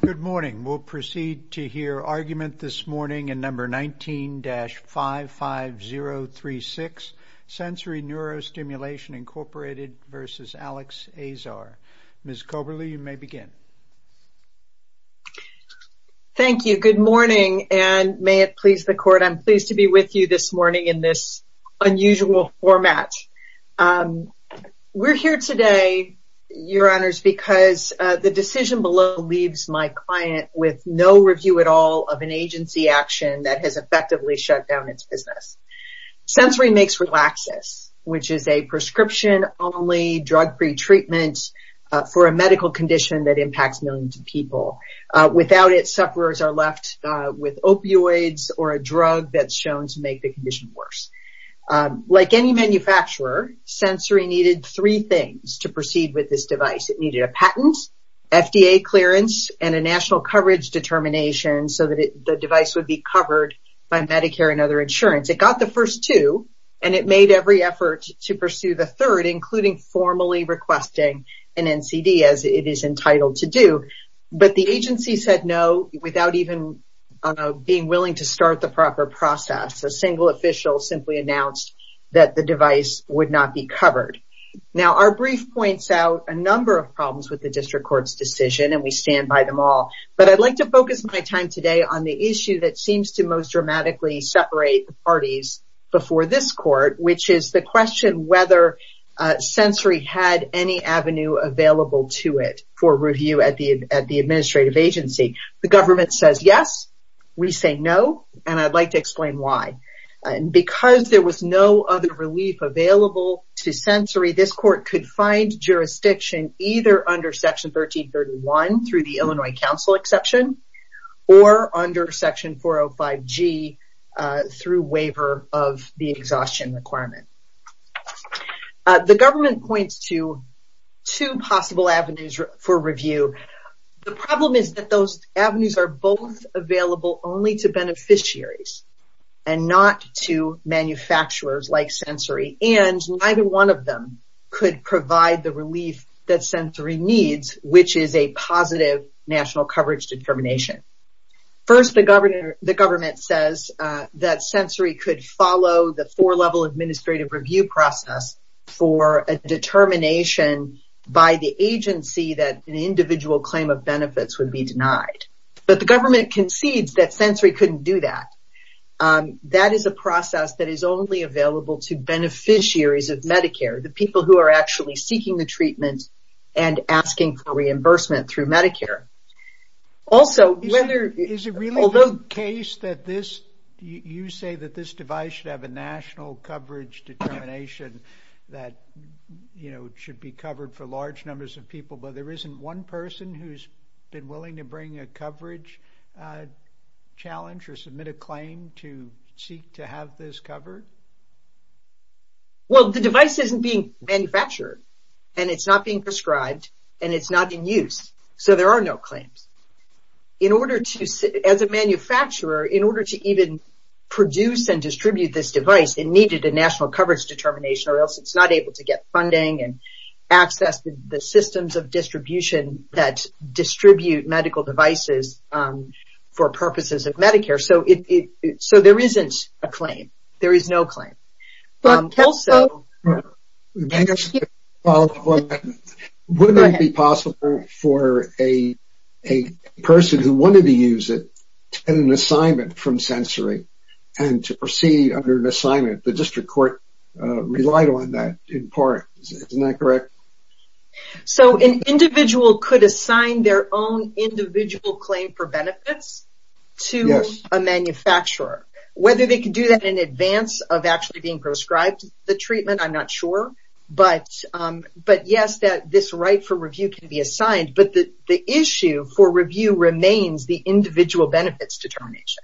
Good morning. We'll proceed to hear argument this morning in number 19-55036, Sensory NeuroStimulation, Inc. v. Alex Azar. Ms. Coberley, you may begin. Thank you. Good morning, and may it please the Court, I'm pleased to be with you this morning in this unusual format. We're here today, Your Honors, because the decision below leaves my client with no review at all of an agency action that has effectively shut down its business. Sensory makes Relaxis, which is a prescription-only drug pretreatment for a medical condition that impacts millions of people. Without it, sufferers are left with opioids or a drug that's shown to make the condition worse. Like any manufacturer, Sensory needed three things to proceed with this device. It needed a patent, FDA clearance, and a national coverage determination so that the device would be covered by Medicare and other insurance. It got the first two, and it made every effort to pursue the third, including formally requesting an NCD, as it is entitled to do. But the agency said no without even being willing to start the proper process. A single official simply announced that the device would not be covered. Now, our brief points out a number of problems with the District Court's decision, and we stand by them all, but I'd like to focus my time today on the issue that seems to most dramatically separate the parties before this Court, which is the question whether Sensory had any avenue available to it for review at the administrative agency. The government says yes, we say no, and I'd like to explain why. Because there was no other relief available to Sensory, this Court could find jurisdiction either under Section 1331 through the Illinois Council exception, or under Section 405G through waiver of the exhaustion requirement. The government points to two possible avenues for review. The problem is that those avenues are both available only to beneficiaries and not to manufacturers like Sensory, and neither one of them could provide the relief that Sensory needs, which is a positive national coverage determination. First, the government says that Sensory could follow the four-level administrative review process for a determination by the agency that an individual claim of benefits would be denied. But the government concedes that this is a process that is only available to beneficiaries of Medicare, the people who are actually seeking the treatment and asking for reimbursement through Medicare. Also, whether... Is it really the case that this, you say that this device should have a national coverage determination that, you know, should be covered for large numbers of people, but there isn't one person who's been covered? Well, the device isn't being manufactured, and it's not being prescribed, and it's not in use, so there are no claims. In order to, as a manufacturer, in order to even produce and distribute this device, it needed a national coverage determination or else it's not able to get funding and access the systems of distribution that distribute medical devices for purposes of Medicare. So, there isn't a claim. There is no claim. Also, would it be possible for a person who wanted to use it to get an assignment from Sensory and to proceed under an assignment? The district court relied on that in part. Isn't that correct? So, an individual could assign their own individual claim for benefits to a manufacturer. Whether they can do that in advance of actually being prescribed the treatment, I'm not sure, but yes, that this right for review can be assigned, but the issue for review remains the individual benefits determination.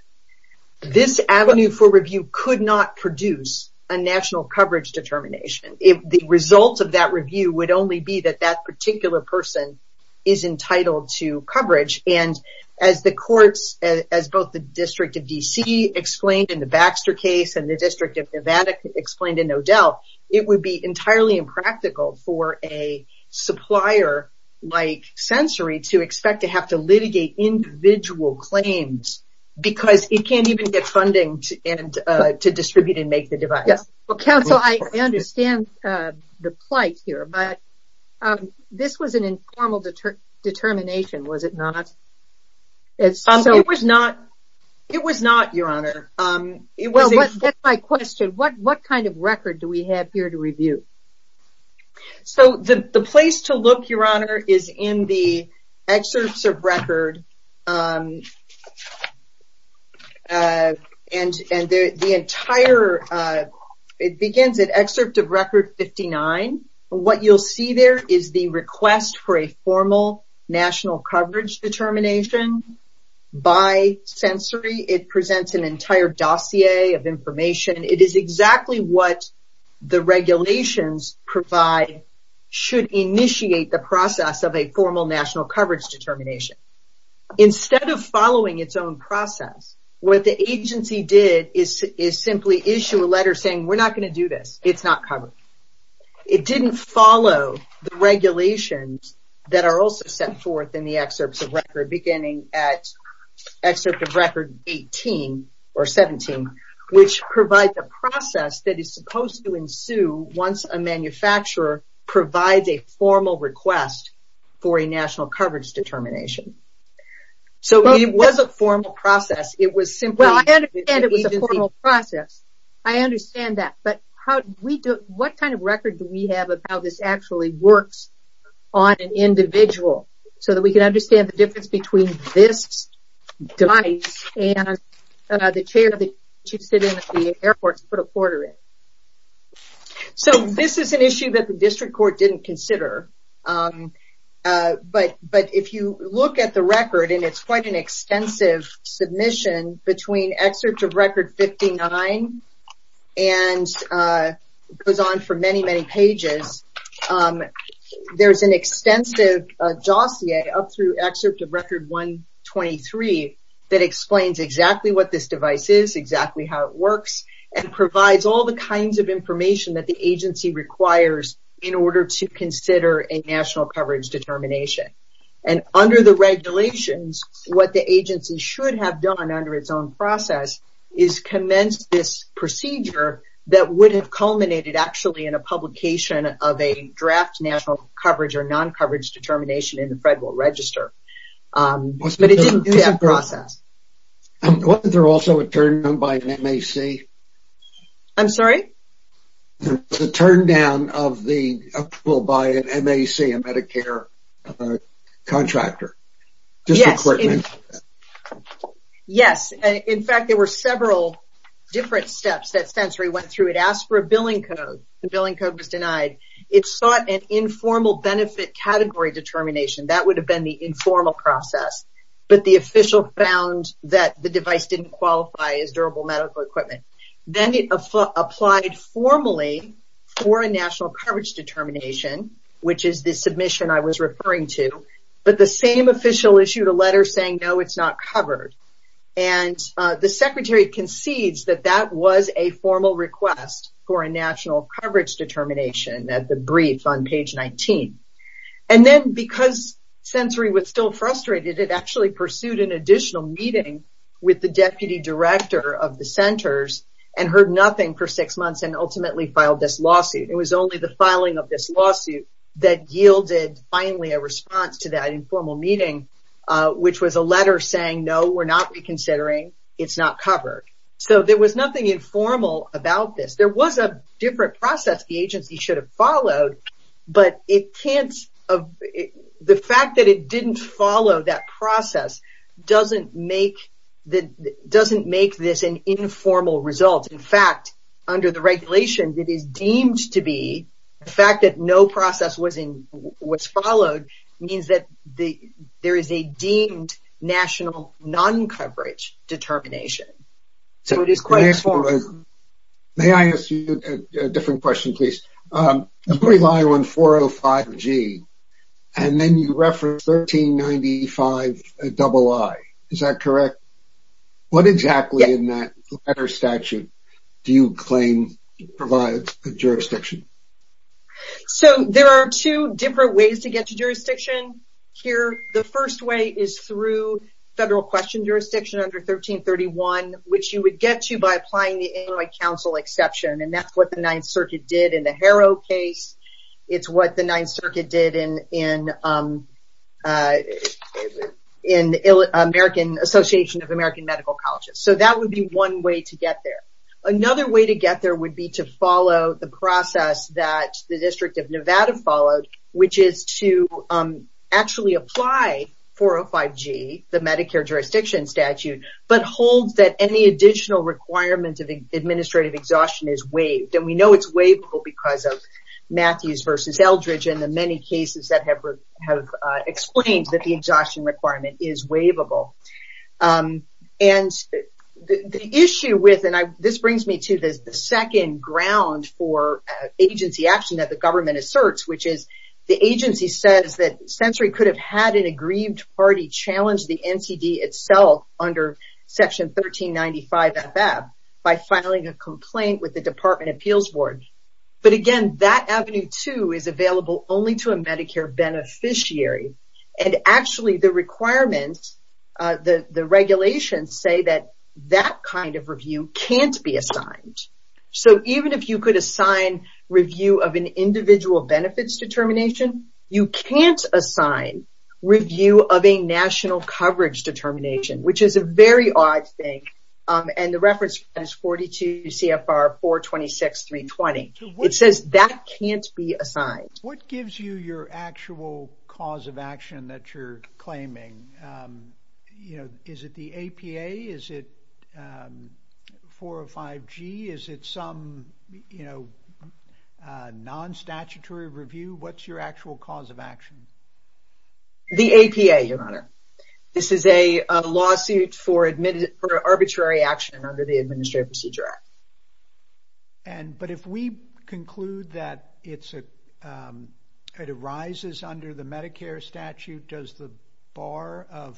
This avenue for review could not produce a national coverage determination. If the result of that review would only be that that particular person is entitled to coverage, and as the courts, as both the District of D.C. explained in the Baxter case and the District of Nevada explained in O'Dell, it would be entirely impractical for a supplier like Sensory to expect to have to litigate individual claims because it can't even get funding to distribute and make the device. Counsel, I understand the plight here, but this was an informal determination, was it not? It was not, Your Honor. That's my question. What kind of record do we have here to review? So, the place to look, Your Honor, is in the excerpts of record, and the entire, it begins at excerpt of record 59. What you'll see there is the request for a formal national coverage determination by Sensory. It presents an entire dossier of information. It is exactly what the regulations provide should initiate the process of a formal national coverage determination. Instead of following its own process, what the agency did is simply issue a letter saying, we're not going to do this. It's not covered. It didn't follow the regulations that are also set forth in the excerpts of record, beginning at excerpt of record 18, or 17, which provides a process that is supposed to ensue once a manufacturer provides a formal request for a national coverage determination. So, it was a formal process. It was simply... Well, I understand it was a formal process. I understand that, but what kind of record do we have of how this actually works on an individual so that we can understand the difference between this device and the chair that you sit in at the airport to put a quarter in? So, this is an issue that the District Court didn't consider, but if you look at the record, and it's quite an extensive submission between excerpt of record 59 and goes on for many, many pages, there's an extensive dossier up through excerpt of record 123 that explains exactly what this device is, exactly how it works, and provides all the kinds of information that the agency requires in order to consider a national coverage determination. And under the regulations, what the agency should have done under its own process is commence this procedure that would have culminated actually in a publication of a draft national coverage or non-coverage determination in the Federal Register. But it didn't go through that process. Wasn't there also a turn down by MAC? I'm sorry? A turn down of the approval by MAC, a Medicare contractor? Yes. In fact, there were several different steps that sensory went through. It asked for a billing code. The billing code was denied. It sought an informal benefit category determination. That would have been the informal process, but the official found that the device didn't qualify as durable medical equipment. Then it applied formally for a national coverage determination, which is the submission I was referring to, but the same official issued a letter saying, no, it's not covered. And the Secretary concedes that that was a formal request for a national coverage determination at the brief on page 19. And then because sensory was still frustrated, it actually pursued an additional meeting with the Deputy Director of the Centers and heard nothing for six months and ultimately filed this lawsuit. It was only the filing of this lawsuit that yielded finally a response to that informal meeting, which was a There was nothing informal about this. There was a different process the agency should have followed, but the fact that it didn't follow that process doesn't make this an informal result. In fact, under the regulation, it is deemed to be the fact that no process was followed means that there is a deemed national non-coverage determination. So it is quite... May I ask you a different question, please? You rely on 405G and then you reference 1395-II. Is that correct? What exactly in that letter statute do you claim provides the jurisdiction? So there are two different ways to get to jurisdiction here. The first way is through federal question jurisdiction under 1331, which you would get to by applying the Inuit Council exception. And that's what the Ninth Circuit did in the Harrow case. It's what the Ninth Circuit did in the Association of American Medical Colleges. So that would be one way to get there. Another way to get there would be to follow the District of Nevada followed, which is to actually apply 405G, the Medicare jurisdiction statute, but holds that any additional requirement of administrative exhaustion is waived. And we know it's waivable because of Matthews versus Eldridge and the many cases that have explained that the exhaustion requirement is waivable. And the issue with, and this brings me to the second ground for agency action that the government asserts, which is the agency says that Century could have had an aggrieved party challenge the NCD itself under Section 1395-FFAB by filing a complaint with the Department of Appeals Board. But again, that Avenue 2 is available only to a Medicare beneficiary. And actually the requirements, the regulations, say that that kind of review can't be assigned. So even if you could assign review of an individual benefits determination, you can't assign review of a national coverage determination, which is a very odd thing. And the reference is 42 CFR 426-320. It says that can't be assigned. What gives you your actual cause of action that you're claiming? You know, 405-G, is it some, you know, non-statutory review? What's your actual cause of action? The APA, Your Honor. This is a lawsuit for arbitrary action under the Administrative Procedure Act. But if we conclude that it arises under the Medicare statute, does the bar of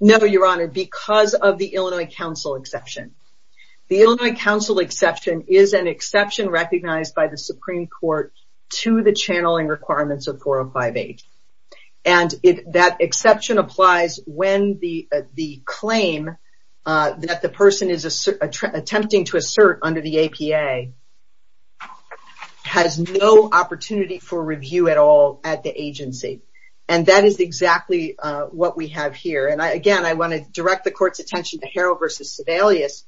No, Your Honor, because of the Illinois Council exception. The Illinois Council exception is an exception recognized by the Supreme Court to the channeling requirements of 405-H. And that exception applies when the claim that the person is attempting to assert under the APA has no opportunity for review at all at the agency. And that is exactly what we have here. And again, I want to direct the court's attention to Harrell versus Sebelius,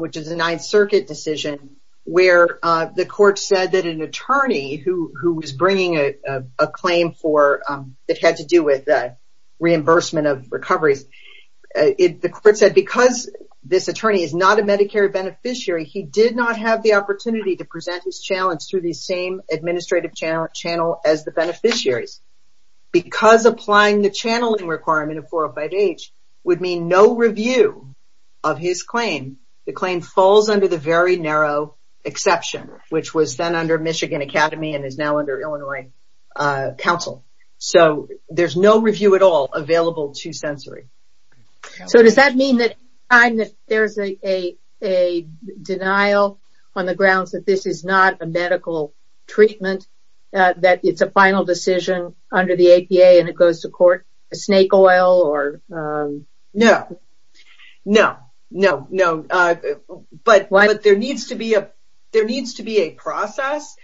which is a Ninth Circuit decision, where the court said that an attorney who was bringing a claim that had to do with the reimbursement of recoveries, the court said because this attorney is not a Medicare beneficiary, he did not have the opportunity to review his claim. The claim falls under the very narrow exception, which was then under Michigan Academy and is now under Illinois Council. So there's no review at all available to sensory. So does that mean that there's a denial on the decision under the APA and it goes to court? Snake oil? No, no, no, no. But there needs to be a process.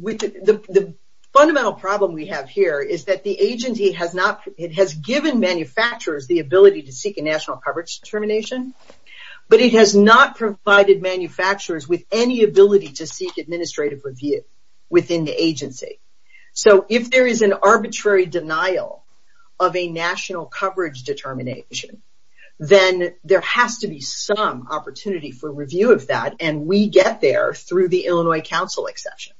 The fundamental problem we have here is that the agency has not, it has given manufacturers the ability to seek a national coverage determination, but it has not provided manufacturers with any to seek administrative review within the agency. So if there is an arbitrary denial of a national coverage determination, then there has to be some opportunity for review of that. And we get there through the Illinois Council exception.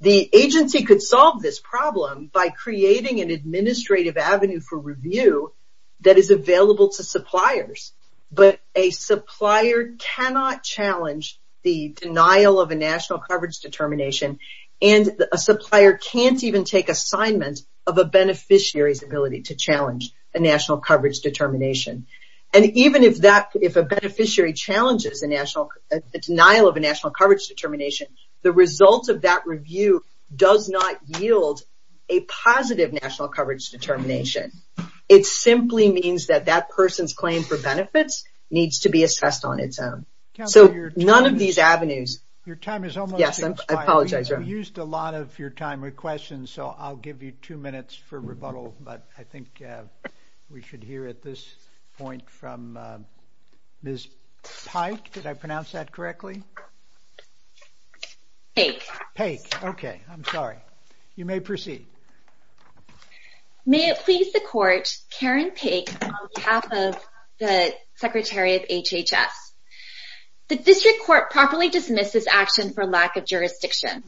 The agency could solve this problem by creating an administrative avenue for review that is available to suppliers, but a supplier cannot challenge the denial of a national coverage determination, and a supplier can't even take assignment of a beneficiary's ability to challenge a national coverage determination. And even if a beneficiary challenges the denial of a national coverage determination, the result of that review does not yield a positive national coverage determination. It simply means that that person's claim for benefits needs to be assessed on its own. So none of these avenues... Your time is almost up. Yes, I apologize. You used a lot of your time with questions, so I'll give you two minutes for rebuttal, but I think we should hear at this point from Ms. Pike. Did I pronounce that correctly? Pike. Okay, I'm sorry. You may proceed. May it please the Court, Karen Pike on behalf of the Secretary of HHS. The District Court properly dismisses action for lack of jurisdiction.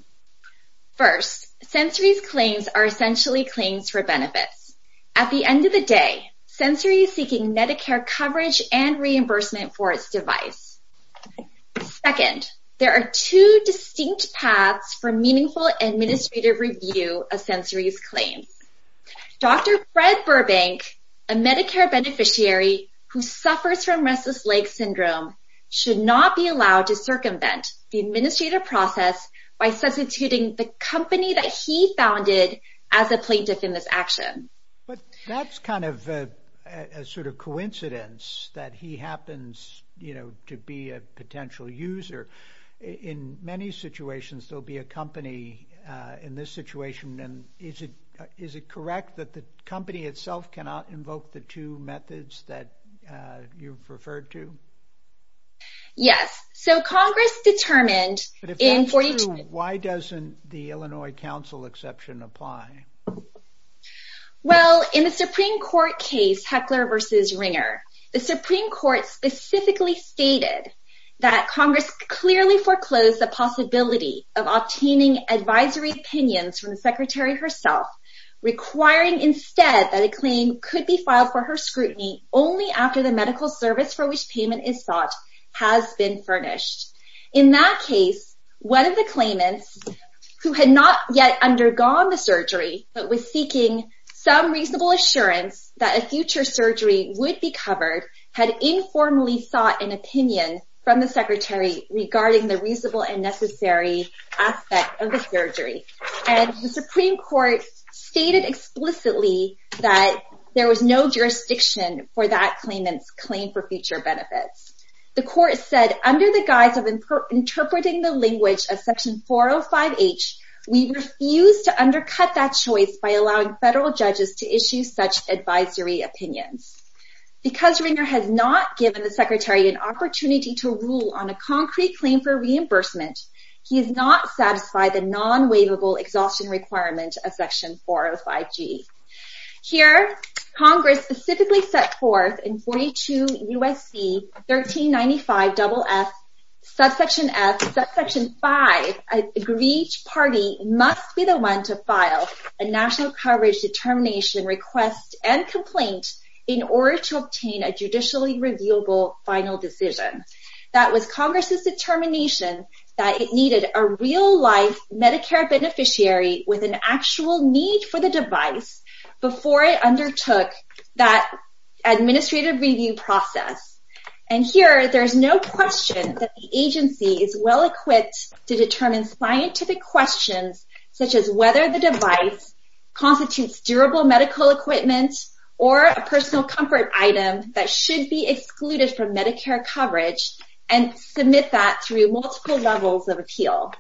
First, sensory claims are essentially claims for benefits. At the end of the day, sensory is seeking Medicare coverage and reimbursement for its device. Second, there are two distinct paths for meaningful administrative review of sensory use claims. Dr. Fred Burbank, a Medicare beneficiary who suffers from restless leg syndrome, should not be allowed to circumvent the administrative process by substituting the company that he founded as a plaintiff in this action. But that's kind of a sort of coincidence that he happens, you know, to be a potential user. In many situations, there'll be a company in this situation, and is it is it correct that the company itself cannot invoke the two methods that you've referred to? Yes, so Congress determined... But if that's true, why doesn't the Illinois Council exception apply? Well, in the Supreme Court case Heckler v. Ringer, the Supreme Court specifically stated that Congress clearly foreclosed the possibility of obtaining advisory opinions from the Secretary herself, requiring instead that a claim could be filed for her scrutiny only after the medical service for which payment is sought has been furnished. In that case, one of the claimants, who had not yet undergone the surgery, but was seeking some reasonable assurance that a future surgery would be covered, had informally sought an opinion from the Secretary regarding the reasonable and necessary aspect of the surgery. And the Supreme Court stated explicitly that there was no jurisdiction for that claimant's claim for future benefits. The court said, under the guise of interpreting the language of Section 405H, we refuse to undercut that choice by allowing federal judges to issue such advisory opinions. Because Ringer has not given the Secretary an opportunity to rule on a concrete claim for reimbursement, he is not satisfied the non-waivable exhaustion requirement of Section 405G. Here, Congress specifically set forth in 42 U.S.C. 1395, double F, subsection F, subsection 5, that each party must be the one to file a national coverage determination request and complaint in order to obtain a judicially reviewable final decision. That was Congress's determination that it needed a real-life Medicare beneficiary with an actual need for the device before it undertook that administrative review process. And here, there's no question that the agency is well-equipped to determine scientific questions such as whether the device constitutes durable medical equipment or a personal comfort item that should be excluded from Medicare coverage and submit that through multiple levels of appeal.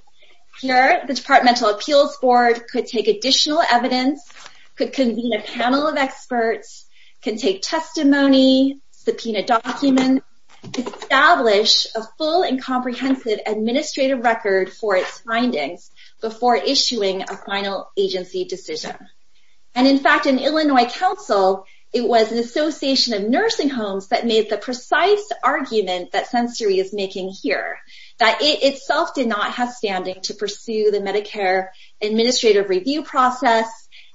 Here, the Departmental Appeals Board could take additional evidence, could convene a panel of experts, can take testimony, subpoena documents, establish a full and comprehensive administrative record for its findings before issuing a final agency decision. And in fact, in Illinois Council, it was an Association of Nursing Homes that made the precise argument that Sensory is making here, that it itself did not have standing to pursue the Medicare administrative review process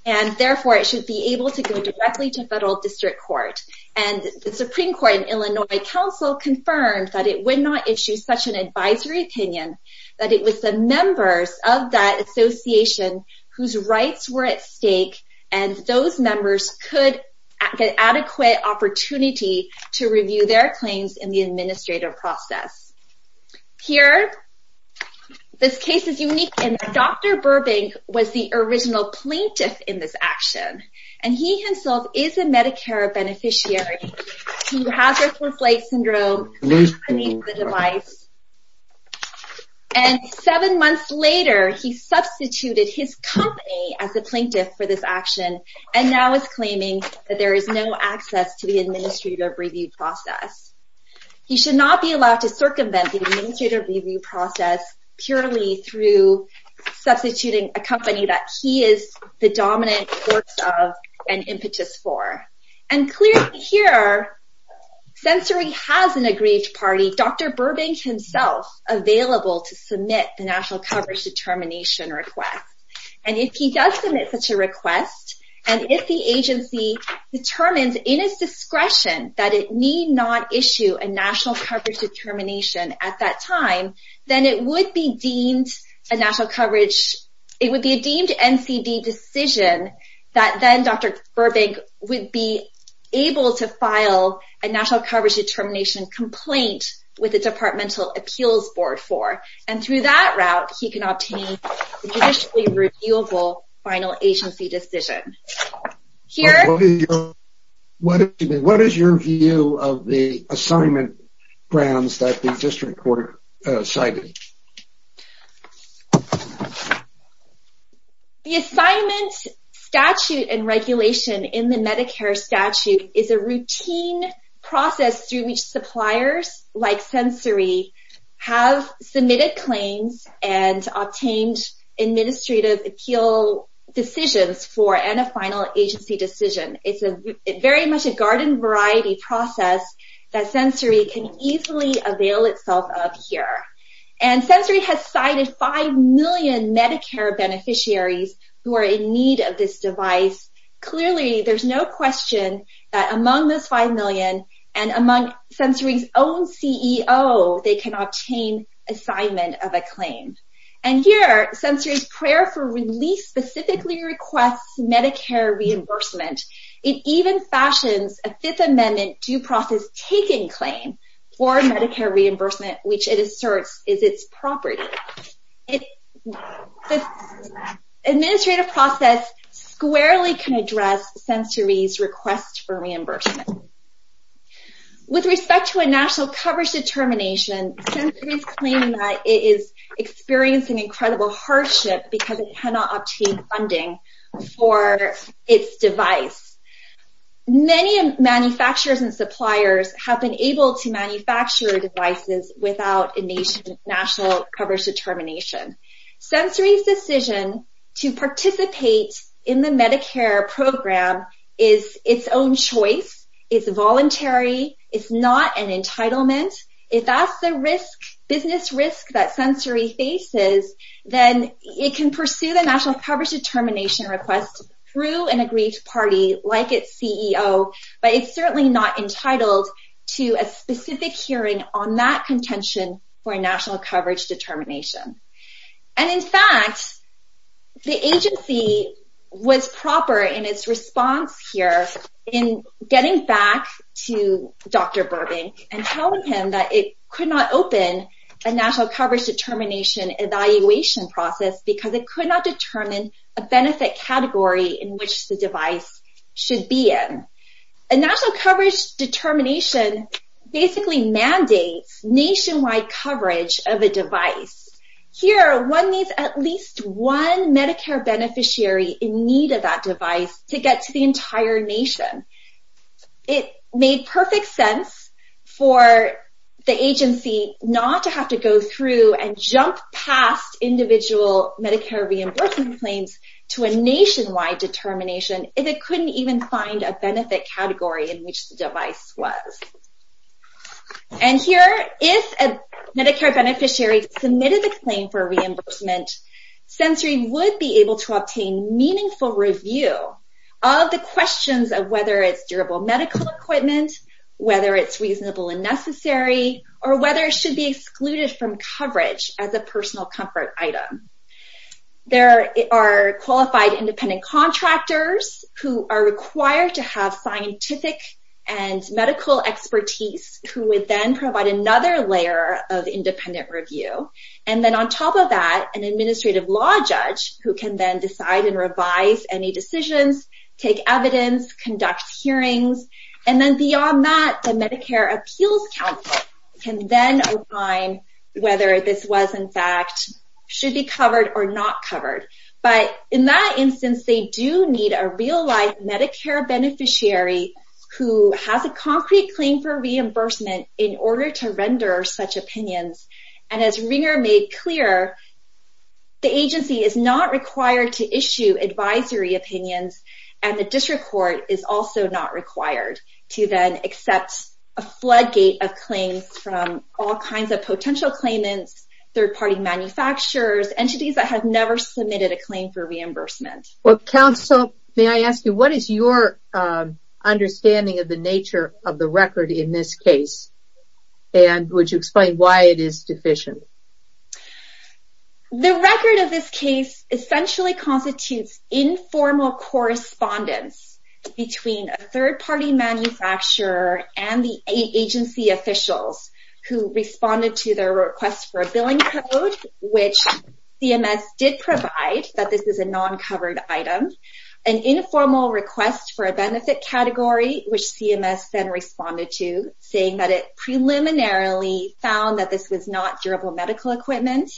and therefore it should be able to go directly to federal district court. And the Supreme Court in Illinois Council confirmed that it would not issue such an advisory opinion, that it was the members of that association whose rights were at stake and those members could get adequate opportunity to review their claims in the And Dr. Burbank was the original plaintiff in this action and he himself is a Medicare beneficiary to Hazardous Flight Syndrome. And seven months later, he substituted his company as a plaintiff for this action and now is claiming that there is no access to the administrative review process. He should not be allowed to circumvent the administrative review process purely through substituting a company that he is the dominant force of and impetus for. And clearly here, Sensory has an aggrieved party, Dr. Burbank himself, available to submit the National Coverage Determination request. And if he does submit such a request and if the agency determines in its discretion that it need not issue a National Coverage Determination at that time, then it would be deemed a National Coverage... it would be a deemed NCD decision that then Dr. Burbank would be able to file a National Coverage Determination complaint with the Departmental Appeals Board for. And through that route, he can obtain a judicially reviewable final agency decision. Here... What is your view of the assignment grounds that the district court cited? The assignment statute and regulation in the Medicare statute is a routine process through which suppliers like Sensory have submitted claims and obtained administrative appeal decisions for and a final agency decision. It's very much a garden variety process that Sensory can easily avail itself of here. And Sensory has cited 5 million Medicare beneficiaries who are in need of this device. Clearly, there's no question that among those 5 million and among Sensory's own CEO, they can obtain assignment of a claim. And here, Sensory's prayer for release specifically requests Medicare reimbursement. It even fashions a Fifth Amendment due process taking claim for Medicare reimbursement, which it asserts is its property. The administrative process squarely can address Sensory's request for reimbursement. With respect to a National Coverage Determination, Sensory is claiming that it is experiencing incredible hardship because it cannot obtain funding for its device. Many manufacturers and suppliers have been able to manufacture devices without a National Coverage Determination. Sensory's decision to participate in the Medicare program is its own choice. It's voluntary. It's not an entitlement. If that's the business risk that Sensory faces, then it can pursue the National Coverage Determination request through an agreed party like its CEO, but it's certainly not entitled to a specific hearing on that contention for a The agency was proper in its response here in getting back to Dr. Burbank and telling him that it could not open a National Coverage Determination evaluation process because it could not determine a benefit category in which the device should be in. A National Coverage Determination basically mandates nationwide coverage of a device. Here, one needs at least one Medicare beneficiary in need of that device to get to the entire nation. It made perfect sense for the agency not to have to go through and jump past individual Medicare reimbursement claims to a nationwide determination if it couldn't even find a benefit category in which the device was. Here, if a Medicare beneficiary submitted a claim for reimbursement, Sensory would be able to obtain meaningful review of the questions of whether it's durable medical equipment, whether it's reasonable and necessary, or whether it should be excluded from coverage as a personal comfort item. There are qualified independent contractors who are required to have scientific and medical expertise who would then provide another layer of independent review. And then on top of that, an administrative law judge who can then decide and revise any decisions, take evidence, conduct hearings, and then beyond that, the Medicare Appeals Council can then define whether this was in fact should be covered or not covered. But in that instance, they do need a real-life Medicare beneficiary who has a concrete claim for reimbursement in order to render such opinions. And as Ringer made clear, the agency is not required to issue advisory opinions and the district court is also not required to then accept a floodgate of claims from all kinds of potential claimants, third-party manufacturers, entities that have never submitted a claim for reimbursement. What is your understanding of the nature of the record in this case and would you explain why it is deficient? The record of this case essentially constitutes informal correspondence between a third-party manufacturer and the agency officials who responded to their request for a billing code, which CMS did provide that this is a non-covered item, an informal request for a benefit category, which CMS then responded to saying that it preliminarily found that this was not durable medical equipment,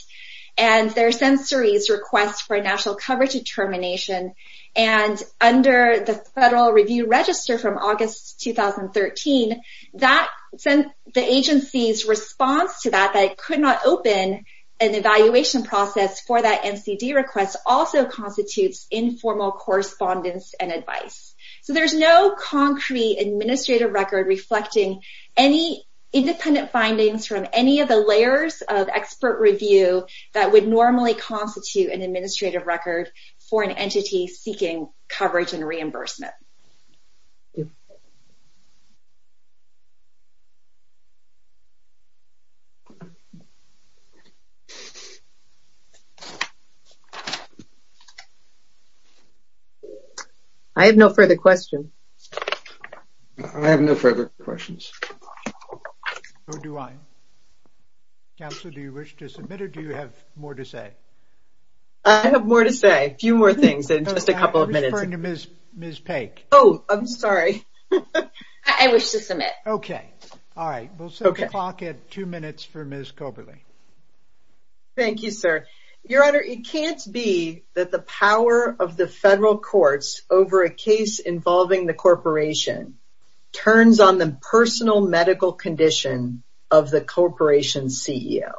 and their sensory's request for a national coverage determination. And under the Federal Review Register from August 2013, the agency's response to that, that it could not open an evaluation process for that MCD request, also constitutes informal correspondence and advice. So, there's no concrete administrative record reflecting any independent findings from any of the layers of expert review that would normally constitute an administrative record for an entity seeking coverage and reimbursement. I have no further questions. I have no further questions. So do I. Counselor, do you wish to submit or do you have more to say? I have more to say, few more things in just a couple of minutes. I'm referring to Ms. Paik. Oh, I'm sorry. I wish to submit. Okay. All right. We'll set the clock at two minutes for Ms. Koberly. Thank you, sir. Your Honor, it can't be that the power of the federal courts over a case involving the corporation turns on the personal medical condition of the corporation's CEO.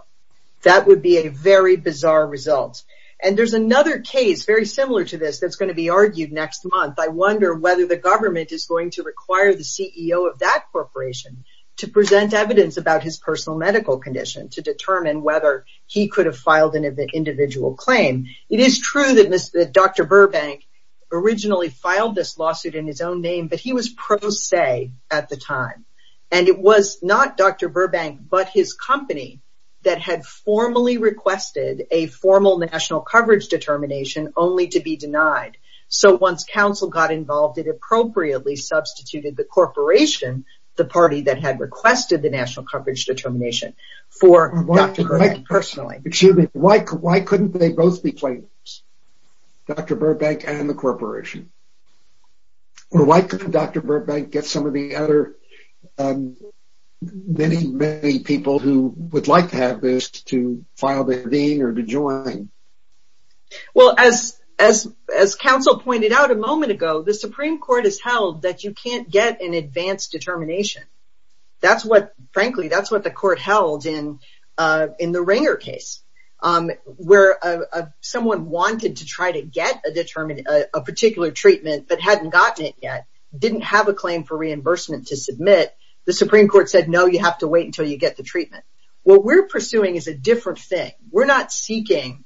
That would be a very bizarre result. And there's another case very similar to this that's going to be argued next month. I wonder whether the government is going to require the CEO of that corporation to present evidence about his personal medical condition to determine whether he could have filed an individual claim. It is true that Dr. Burbank originally filed this lawsuit in his own name, but he was pro se at the time. And it was not Dr. Burbank, but his company that had formally determination only to be denied. So once counsel got involved, it appropriately substituted the corporation, the party that had requested the national coverage determination for Dr. Burbank personally. Excuse me. Why couldn't they both be claimants? Dr. Burbank and the corporation? Or why couldn't Dr. Burbank get some of the other many, many people who would like to have this to file to convene or to join? Well, as counsel pointed out a moment ago, the Supreme Court has held that you can't get an advanced determination. Frankly, that's what the court held in the Ringer case, where someone wanted to try to get a particular treatment but hadn't gotten it yet, didn't have a claim for reimbursement to submit. The Supreme Court said, no, you have to wait until you get the treatment. What we're pursuing is a different thing. We're not seeking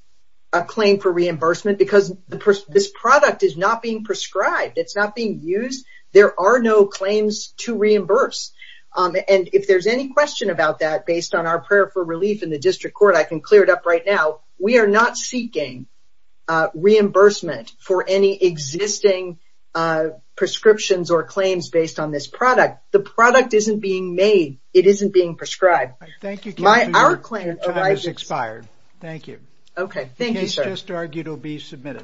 a claim for reimbursement because this product is not being prescribed. It's not being used. There are no claims to reimburse. And if there's any question about that based on our prayer for relief in the district court, I can clear it up right now. We are not seeking reimbursement for any existing prescriptions or claims based on this product. The product isn't being made. It isn't being prescribed. Thank you. My hour claim is expired. Thank you. Okay. Thank you, sir. Just argue to be submitted.